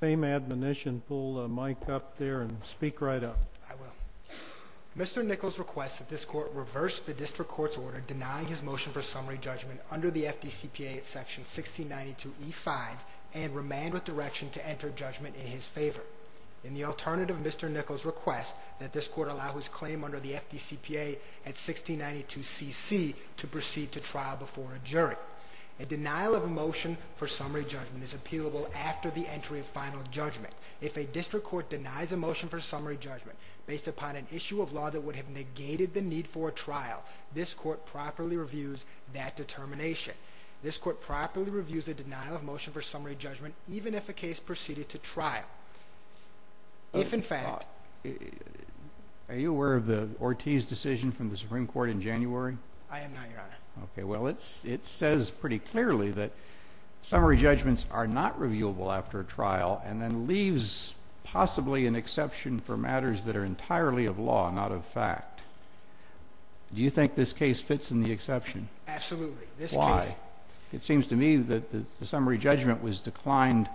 Fame Admonition, pull the mic up there and speak right up. I will. Mr. Nichols requests that this court reverse the district court's order denying his motion for summary judgment under the FDCPA at section 1692 E5 and remand with direction to enter judgment in his favor. In the alternative, Mr. Nichols requests that this court allow his claim under the FDCPA at 1692 CC to proceed to trial before a jury. A denial of a motion for summary judgment is appealable after the entry of final judgment. If a district court denies a motion for summary judgment based upon an issue of law that would have negated the need for a trial, this court properly reviews that determination. This court properly reviews a denial of motion for summary judgment even if a case proceeded to trial. If in fact... Are you aware of the Ortiz decision from the Supreme Court in January? I am not, Your Honor. Okay, well it says pretty clearly that summary judgment is appealable after a trial and then leaves possibly an exception for matters that are entirely of law, not of fact. Do you think this case fits in the exception? Absolutely. Why? It seems to me that the summary judgment was declined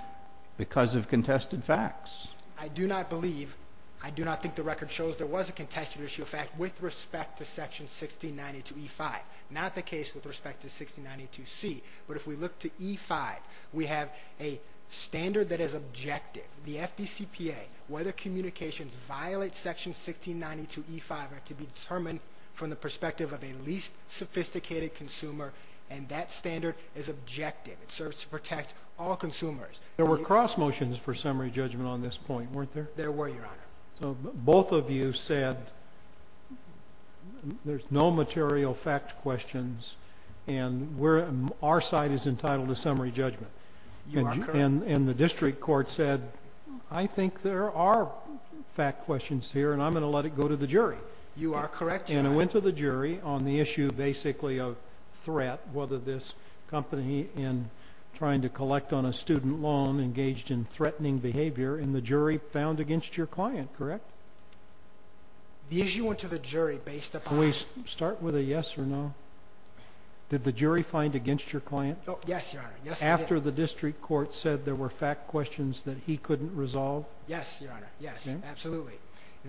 because of contested facts. I do not believe, I do not think the record shows there was a contested issue of fact with respect to section 1692 E5, not the case with respect to 1692 C. But if we look to E5, we have a standard that is objective. The FDCPA, whether communications violate section 1692 E5 are to be determined from the perspective of a least sophisticated consumer and that standard is objective. It serves to protect all consumers. There were cross motions for summary judgment on this point, weren't there? There were, all of you said there's no material fact questions and we're, our side is entitled to summary judgment. You are correct. And the district court said, I think there are fact questions here and I'm gonna let it go to the jury. You are correct, Your Honor. And it went to the jury on the issue basically of threat, whether this company in trying to collect on a student loan engaged in threatening behavior and the issue went to the jury based upon... Can we start with a yes or no? Did the jury find against your client? Yes, Your Honor. After the district court said there were fact questions that he couldn't resolve? Yes, Your Honor. Yes, absolutely.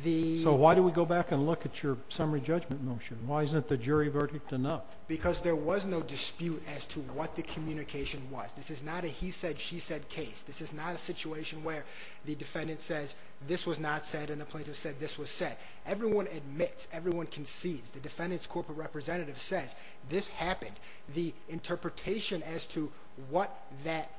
The... So why do we go back and look at your summary judgment motion? Why isn't the jury verdict enough? Because there was no dispute as to what the communication was. This is not a he said, she said case. This is not a situation where the everyone admits, everyone concedes. The defendant's corporate representative says this happened. The interpretation as to what that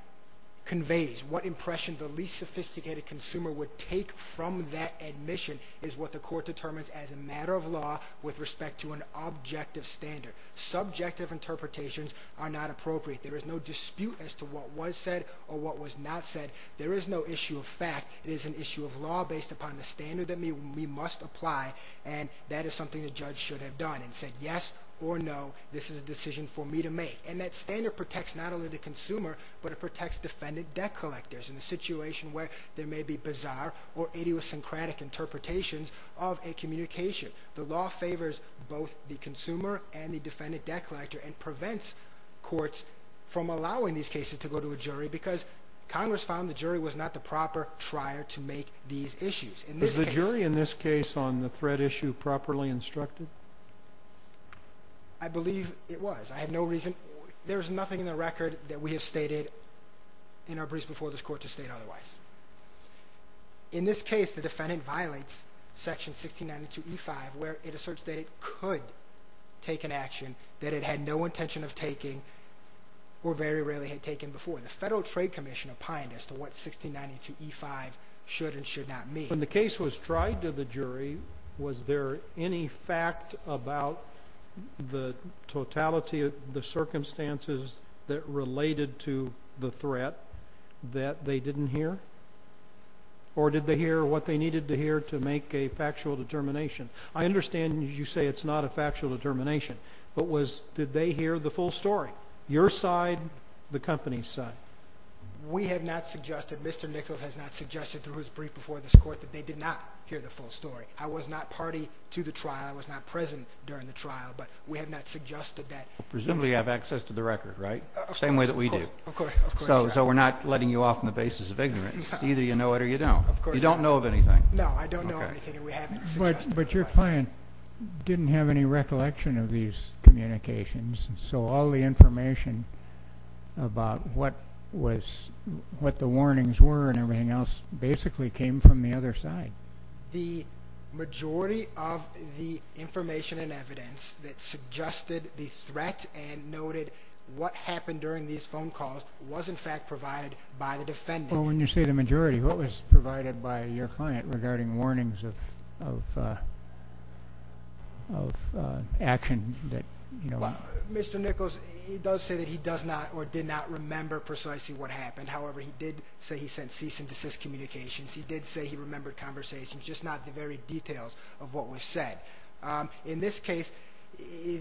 conveys, what impression the least sophisticated consumer would take from that admission is what the court determines as a matter of law with respect to an objective standard. Subjective interpretations are not appropriate. There is no dispute as to what was said or what was not said. There is no issue of fact. It is an issue of and that is something the judge should have done and said yes or no. This is a decision for me to make. And that standard protects not only the consumer, but it protects defendant debt collectors in the situation where there may be bizarre or idiosyncratic interpretations of a communication. The law favors both the consumer and the defendant debt collector and prevents courts from allowing these cases to go to a jury because Congress found the on the threat issue properly instructed. I believe it was. I have no reason. There's nothing in the record that we have stated in our briefs before this court to state otherwise. In this case, the defendant violates section 16 92 E five where it asserts that it could take an action that it had no intention of taking or very rarely had taken before the Federal Trade Commission opined as to what 16 92 E five should and should not meet when the case was tried to the jury. Was there any fact about the totality of the circumstances that related to the threat that they didn't hear? Or did they hear what they needed to hear to make a factual determination? I understand you say it's not a factual determination, but was did they hear the company's side? We have not suggested Mr Nichols has not suggested through his brief before this court that they did not hear the full story. I was not party to the trial. I was not present during the trial, but we have not suggested that presumably have access to the record, right? Same way that we do. So we're not letting you off on the basis of ignorance. Either you know it or you don't. You don't know of anything. No, I don't know. But your client didn't have any recollection of these communications. So all the information about what was what the warnings were and everything else basically came from the other side. The majority of the information and evidence that suggested the threat and noted what happened during these phone calls was in fact provided by the defendant. When you say the majority, what was provided by your client regarding warnings of uh, of action that, you know, Mr Nichols, he does say that he does not or did not remember precisely what happened. However, he did say he sent cease and desist communications. He did say he remembered conversations, just not the very details of what was said. Um, in this case,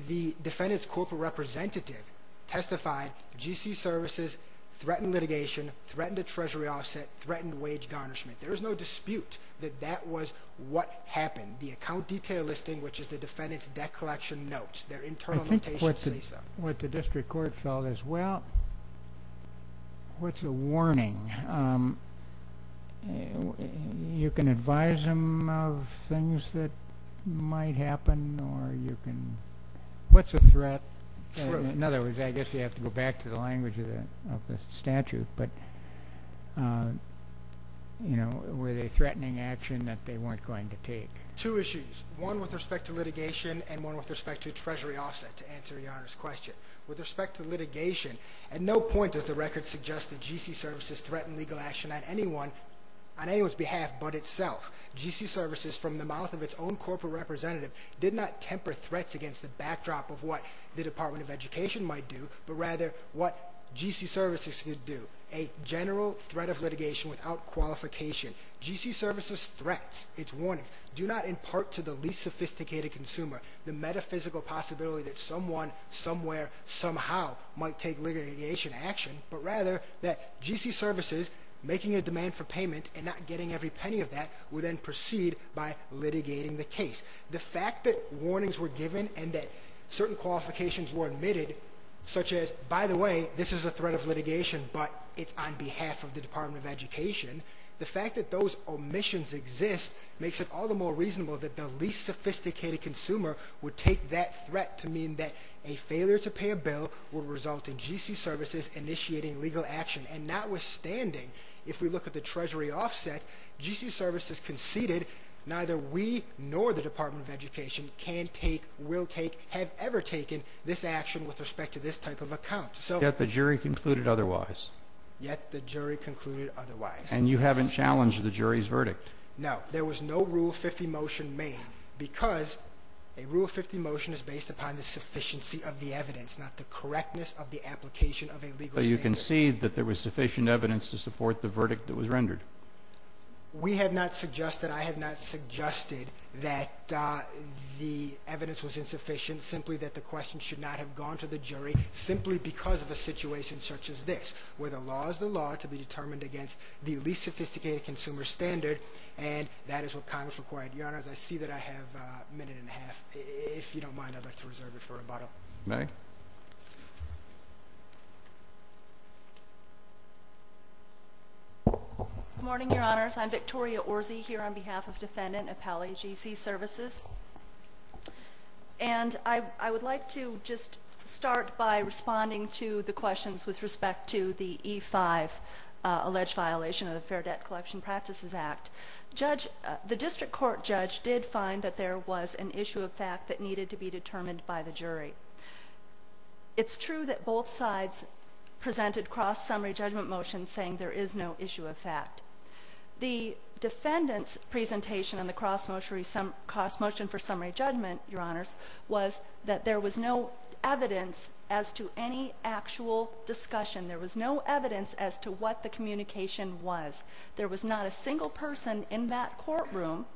the defendant's corporate representative testified G. C. Services threatened litigation, threatened a treasury offset, threatened wage garnishment. There is no dispute that that was what happened. The account detail listing, which is the defendant's debt collection notes their internal. I think that's what the district court felt as well. What's a warning? Um, you can advise him of things that might happen or you can. What's a threat? In other words, I guess you have to go back to the language of the statute. But, uh, you know, were they threatening action that they weren't going to take two issues, one with respect to litigation and one with respect to treasury offset. To answer your question with respect to litigation, at no point does the record suggested G. C. Services threatened legal action on anyone on anyone's behalf. But itself, G. C. Services, from the mouth of its own corporate representative, did not temper threats against the backdrop of what the Department of Education might do, but rather what G. C. Services could do. A general threat of litigation without qualification. G. C. Services threats its warnings do not impart to the least sophisticated consumer the metaphysical possibility that someone somewhere somehow might take litigation action, but rather that G. C. Services making a demand for payment and not getting every penny of that would then proceed by litigating the case. The fact that warnings were given and that certain qualifications were admitted, such as, by the way, this is a threat of litigation, but it's on behalf of the Department of Education. The fact that those omissions exist makes it all the more reasonable that the least sophisticated consumer would take that threat to mean that a failure to pay a bill would result in G. C. Services initiating legal action. And notwithstanding, if we look at the treasury offset, G. C. Services conceded neither we nor the Department of action with respect to this type of account. So that the jury concluded otherwise, yet the jury concluded otherwise, and you haven't challenged the jury's verdict. Now, there was no Rule 50 motion made because a Rule 50 motion is based upon the sufficiency of the evidence, not the correctness of the application of a legal. You can see that there was sufficient evidence to support the verdict that was rendered. We have not suggested. I have not suggested that the evidence was insufficient, simply that the question should not have gone to the jury simply because of a situation such as this, where the law is the law to be determined against the least sophisticated consumer standard. And that is what Congress required. Your honors, I see that I have a minute and a half. If you don't mind, I'd like to reserve it for a bottle. May morning, your honors. I'm Victoria or Z here on behalf of defendant, appellee GC services. And I would like to just start by responding to the questions with respect to the E five alleged violation of the Fair Debt Collection Practices Act. Judge the district court judge did find that there was an issue of fact that needed to be determined by the jury. It's true that both sides presented cross summary judgment motion, saying there is no issue of fact. The defendant's presentation on the cross motion, some cost motion for summary judgment, your honors, was that there was no evidence as to any actual discussion. There was no evidence as to what the communication was. There was not a single person in that courtroom,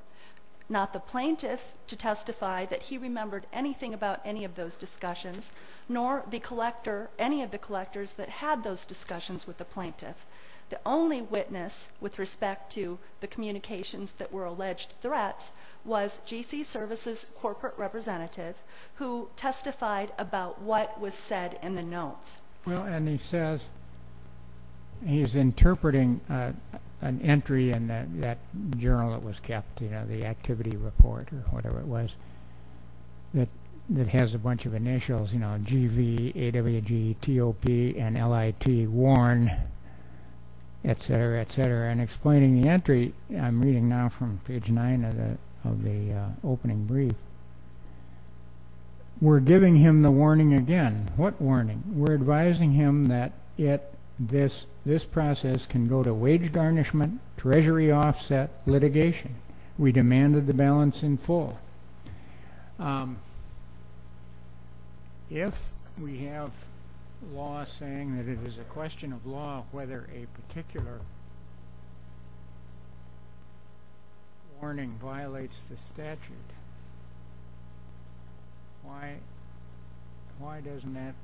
not the plaintiff to testify that he remembered anything about any of those discussions, nor the collector, any of the collectors that had those the only witness with respect to the communications that were alleged threats was GC services, corporate representative who testified about what was said in the notes. Well, and he says he's interpreting an entry in that journal. It was kept, you know, the activity report or whatever it was that that has a bunch of initials, you know, G V A W G T O P and L I T. Warn, et cetera, et cetera, and explaining the entry. I'm reading now from page nine of the opening brief. We're giving him the warning again. What warning? We're advising him that this process can go to wage garnishment, treasury offset, litigation. We demanded the balance in full. Um, if we have law saying that it is a question of law, whether a particular warning violates the statute. Why? Why doesn't that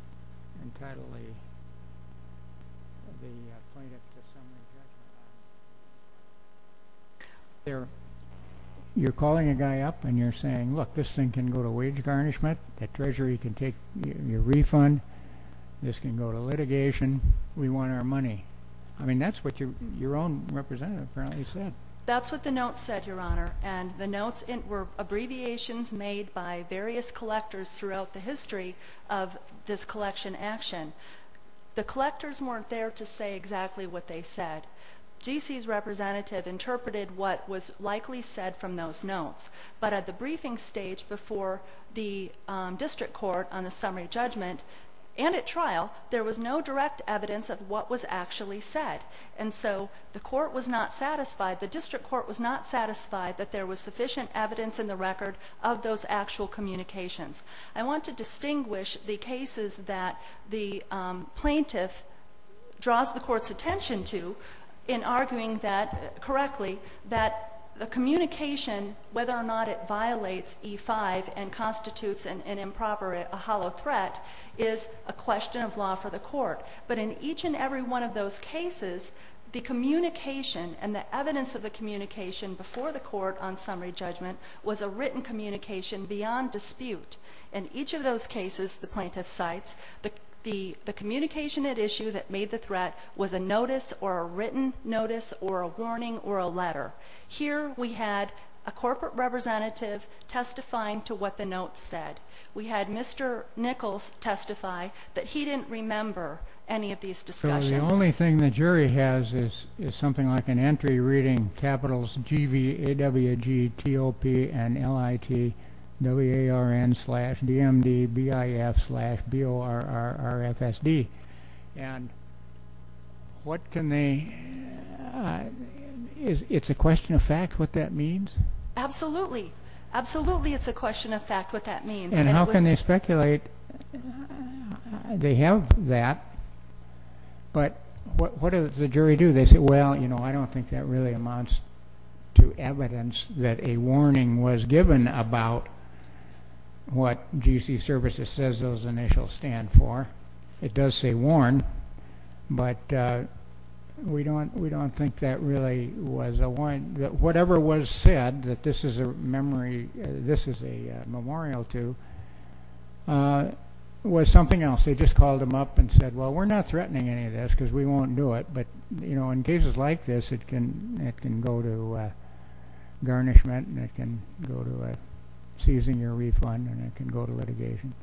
entirely the plaintiff? That's there. You're calling a guy up and you're saying, Look, this thing can go to wage garnishment. That treasury can take your refund. This can go to litigation. We want our money. I mean, that's what your your own representative apparently said. That's what the note said, Your Honor. And the notes were abbreviations made by various collectors throughout the history of this collection action. The collectors weren't there to say exactly what they said. G. C. S. Representative interpreted what was likely said from those notes. But at the briefing stage before the district court on the summary judgment and at trial, there was no direct evidence of what was actually said. And so the court was not satisfied. The district court was not satisfied that there was sufficient evidence in the record of those actual communications. I want to distinguish the cases that the plaintiff draws the attention to in arguing that correctly, that the communication, whether or not it violates E five and constitutes an improper, a hollow threat is a question of law for the court. But in each and every one of those cases, the communication and the evidence of the communication before the court on summary judgment was a written communication beyond dispute. In each of those cases, the plaintiff sites the communication at issue that made the notice or a written notice or a warning or a letter. Here we had a corporate representative testifying to what the notes said. We had Mr Nichols testify that he didn't remember any of these discussions. The only thing the jury has is something like an entry reading capitals G. V. W. G. T. O. P. And L. I. T. W. A. R. N. Slash D. M. D. B. I. F. Slash B. O. R. R. R. F. S. D. And what can they? Uh, it's a question of fact. What that means? Absolutely. Absolutely. It's a question of fact. What that means. And how can they speculate? They have that. But what does the jury do? They say, Well, you know, I don't think that really amounts to evidence that a warning was given about what G. C. Services says those initials stand for. It does say warn, but, uh, we don't. We don't think that really was a wine. Whatever was said that this is a memory. This is a memorial to, uh, was something else. They just called him up and said, Well, we're not threatening any of this because we won't do it. But, you know, in cases like this, it can. It can go to, uh, garnishment and it can go to a seizing your refund, and it can go to litigation.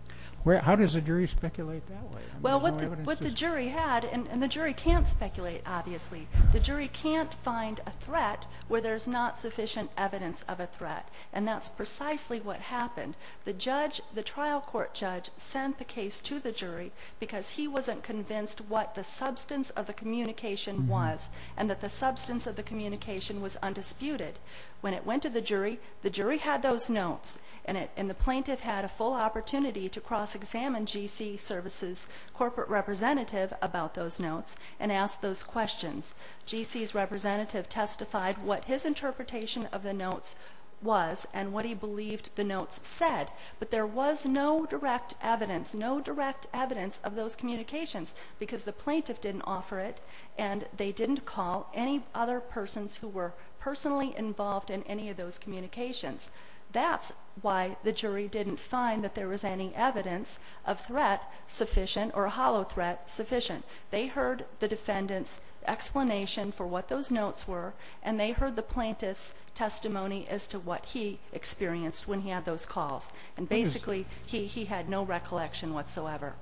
How does the jury speculate that way? Well, what the jury had and the jury can't speculate. Obviously, the jury can't find a threat where there's not sufficient evidence of a threat, and that's precisely what happened. The judge, the trial court judge, sent the case to the jury because he wasn't convinced what the substance of the communication was and that the substance of the communication was undisputed. When it went to the jury, the jury had those notes and the plaintiff had a full opportunity to cross examine G. C. Services corporate representative about those notes and ask those questions. G. C. S. Representative testified what his interpretation of the notes was and what he believed the notes said. But there was no direct evidence, no direct evidence of those communications because the plaintiff didn't offer it, and they didn't call any other persons who were personally involved in any of those communications. That's why the jury didn't find that there was any evidence of threat sufficient or hollow threat sufficient. They heard the defendant's explanation for what those notes were, and they heard the plaintiff's testimony as to what he experienced when he had those calls. And basically, he had no recollection whatsoever.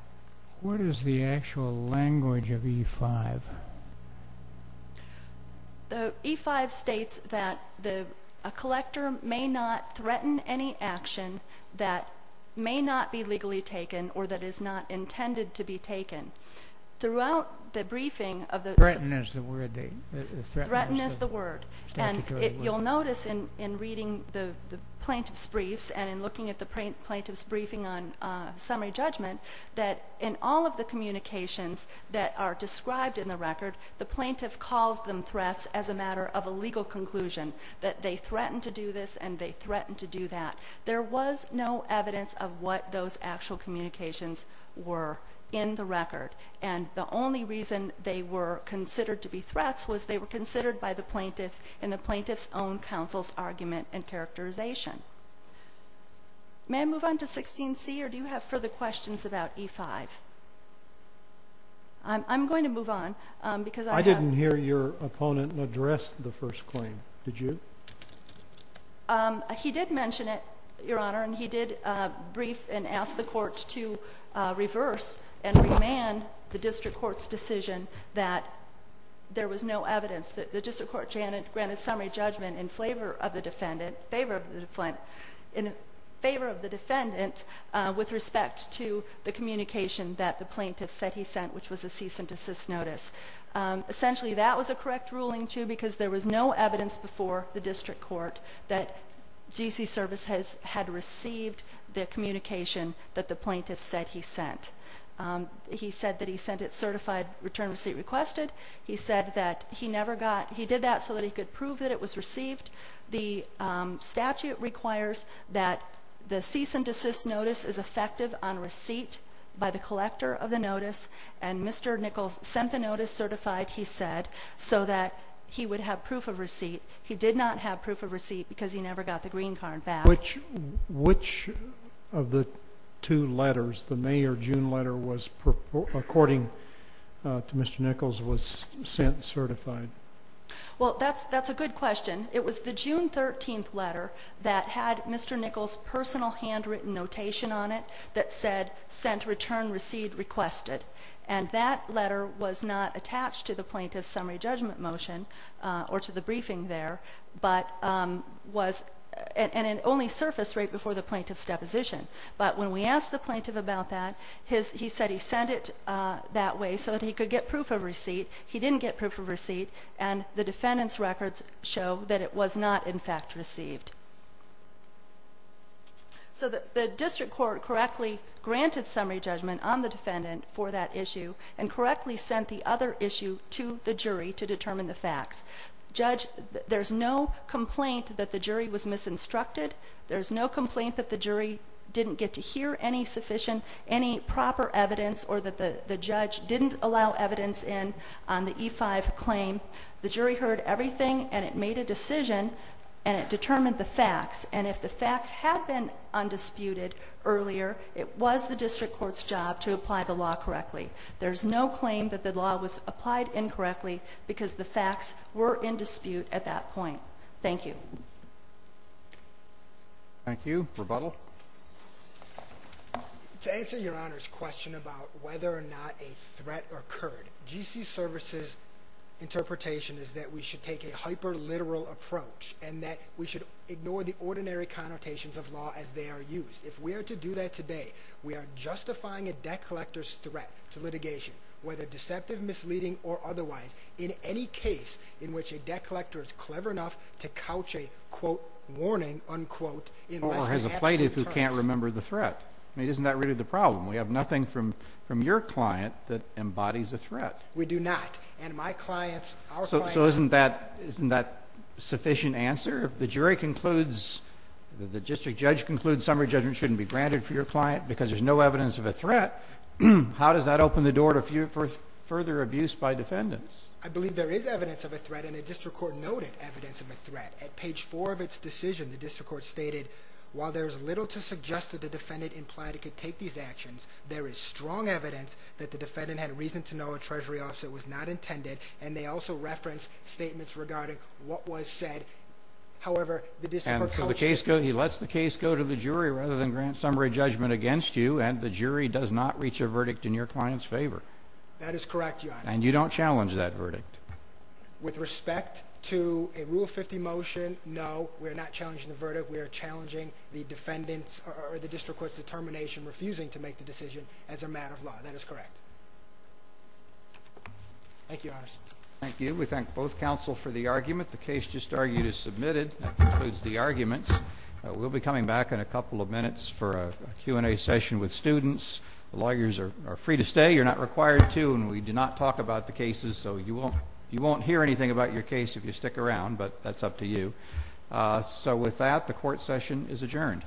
What is the actual language of E five? The E five states that the collector may not threaten any action that may not be legally taken or that is not intended to be taken throughout the briefing of the threatened as the word threatened as the word. And you'll notice in in reading the plaintiff's briefs and in looking at the plaintiff's briefing on summary judgment that in all of the communications that are described in the record, the plaintiff calls them threats as a matter of a legal conclusion that they threatened to do this and they threatened to do that. There was no evidence of what those actual communications were in the record, and the only reason they were considered to be threats was they were considered by the plaintiff in the plaintiff's own counsel's argument and 16 C. Or do you have further questions about E five? I'm going to move on because I didn't hear your opponent and address the first claim. Did you? Um, he did mention it, Your Honor. And he did brief and asked the court to reverse and remand the district court's decision that there was no evidence that the district court Janet granted summary judgment in favor of the defendant with respect to the communication that the plaintiff said he sent, which was a cease and desist notice. Essentially, that was a correct ruling to because there was no evidence before the district court that G. C. Service has had received the communication that the plaintiff said he sent. Um, he said that he sent it certified return receipt requested. He said that he never got he did that so that he could prove that it was effective on receipt by the collector of the notice. And Mr Nichols sent the notice certified, he said, so that he would have proof of receipt. He did not have proof of receipt because he never got the green card back. Which which of the two letters the mayor June letter was according to Mr Nichols was sent certified? Well, that's that's a good question. It was the June 13th letter that had Mr Nichols personal handwritten notation on it that said sent return received requested. And that letter was not attached to the plaintiff's summary judgment motion or to the briefing there, but um, was and only surface right before the plaintiff's deposition. But when we asked the plaintiff about that, he said he sent it that way so that he could get proof of receipt. He didn't get proof of receipt and the defendant's records show that it was not in fact received. So the district court correctly granted summary judgment on the defendant for that issue and correctly sent the other issue to the jury to determine the facts. Judge, there's no complaint that the jury was misinstructed. There's no complaint that the jury didn't get to hear any sufficient, any proper evidence or that the judge didn't allow evidence in on the E five claim. The jury heard everything and it made a decision and it determined the facts. And if the facts have been undisputed earlier, it was the district court's job to apply the law correctly. There's no claim that the law was applied incorrectly because the facts were in dispute at that point. Thank you. Thank you. Rebuttal to answer your honor's question about whether or not a threat occurred. G. C. Services interpretation is that we should take a hyper literal approach and that we should ignore the ordinary connotations of law as they are used. If we are to do that today, we are justifying a debt collector's threat to litigation, whether deceptive, misleading or otherwise in any case in which a debt collector is clever enough to couch a quote warning unquote or has a plaintiff who can't remember the threat. I mean, isn't that really the threat? We do not. And my clients. So isn't that isn't that sufficient answer? The jury concludes that the district judge concludes summary judgment shouldn't be granted for your client because there's no evidence of a threat. How does that open the door to a few further abuse by defendants? I believe there is evidence of a threat in a district court noted evidence of a threat at page four of its decision. The district court stated while there's little to suggest that the defendant implied it could take these actions, there is strong evidence that the defendant had reason to know a treasury officer was not intended. And they also reference statements regarding what was said. However, the case, he lets the case go to the jury rather than grant summary judgment against you. And the jury does not reach a verdict in your client's favor. That is correct. And you don't challenge that verdict with respect to a rule of 50 motion. No, we're not challenging the verdict. We're challenging the defendants or the decision as a matter of law. That is correct. Thank you. Thank you. We thank both counsel for the argument. The case just argued is submitted concludes the arguments. We'll be coming back in a couple of minutes for a Q and a session with students. Lawyers are free to stay. You're not required to. And we do not talk about the cases. So you won't. You won't hear anything about your case if you stick around, but that's up to you. Eso with that, the court session is adjourned. Mhm.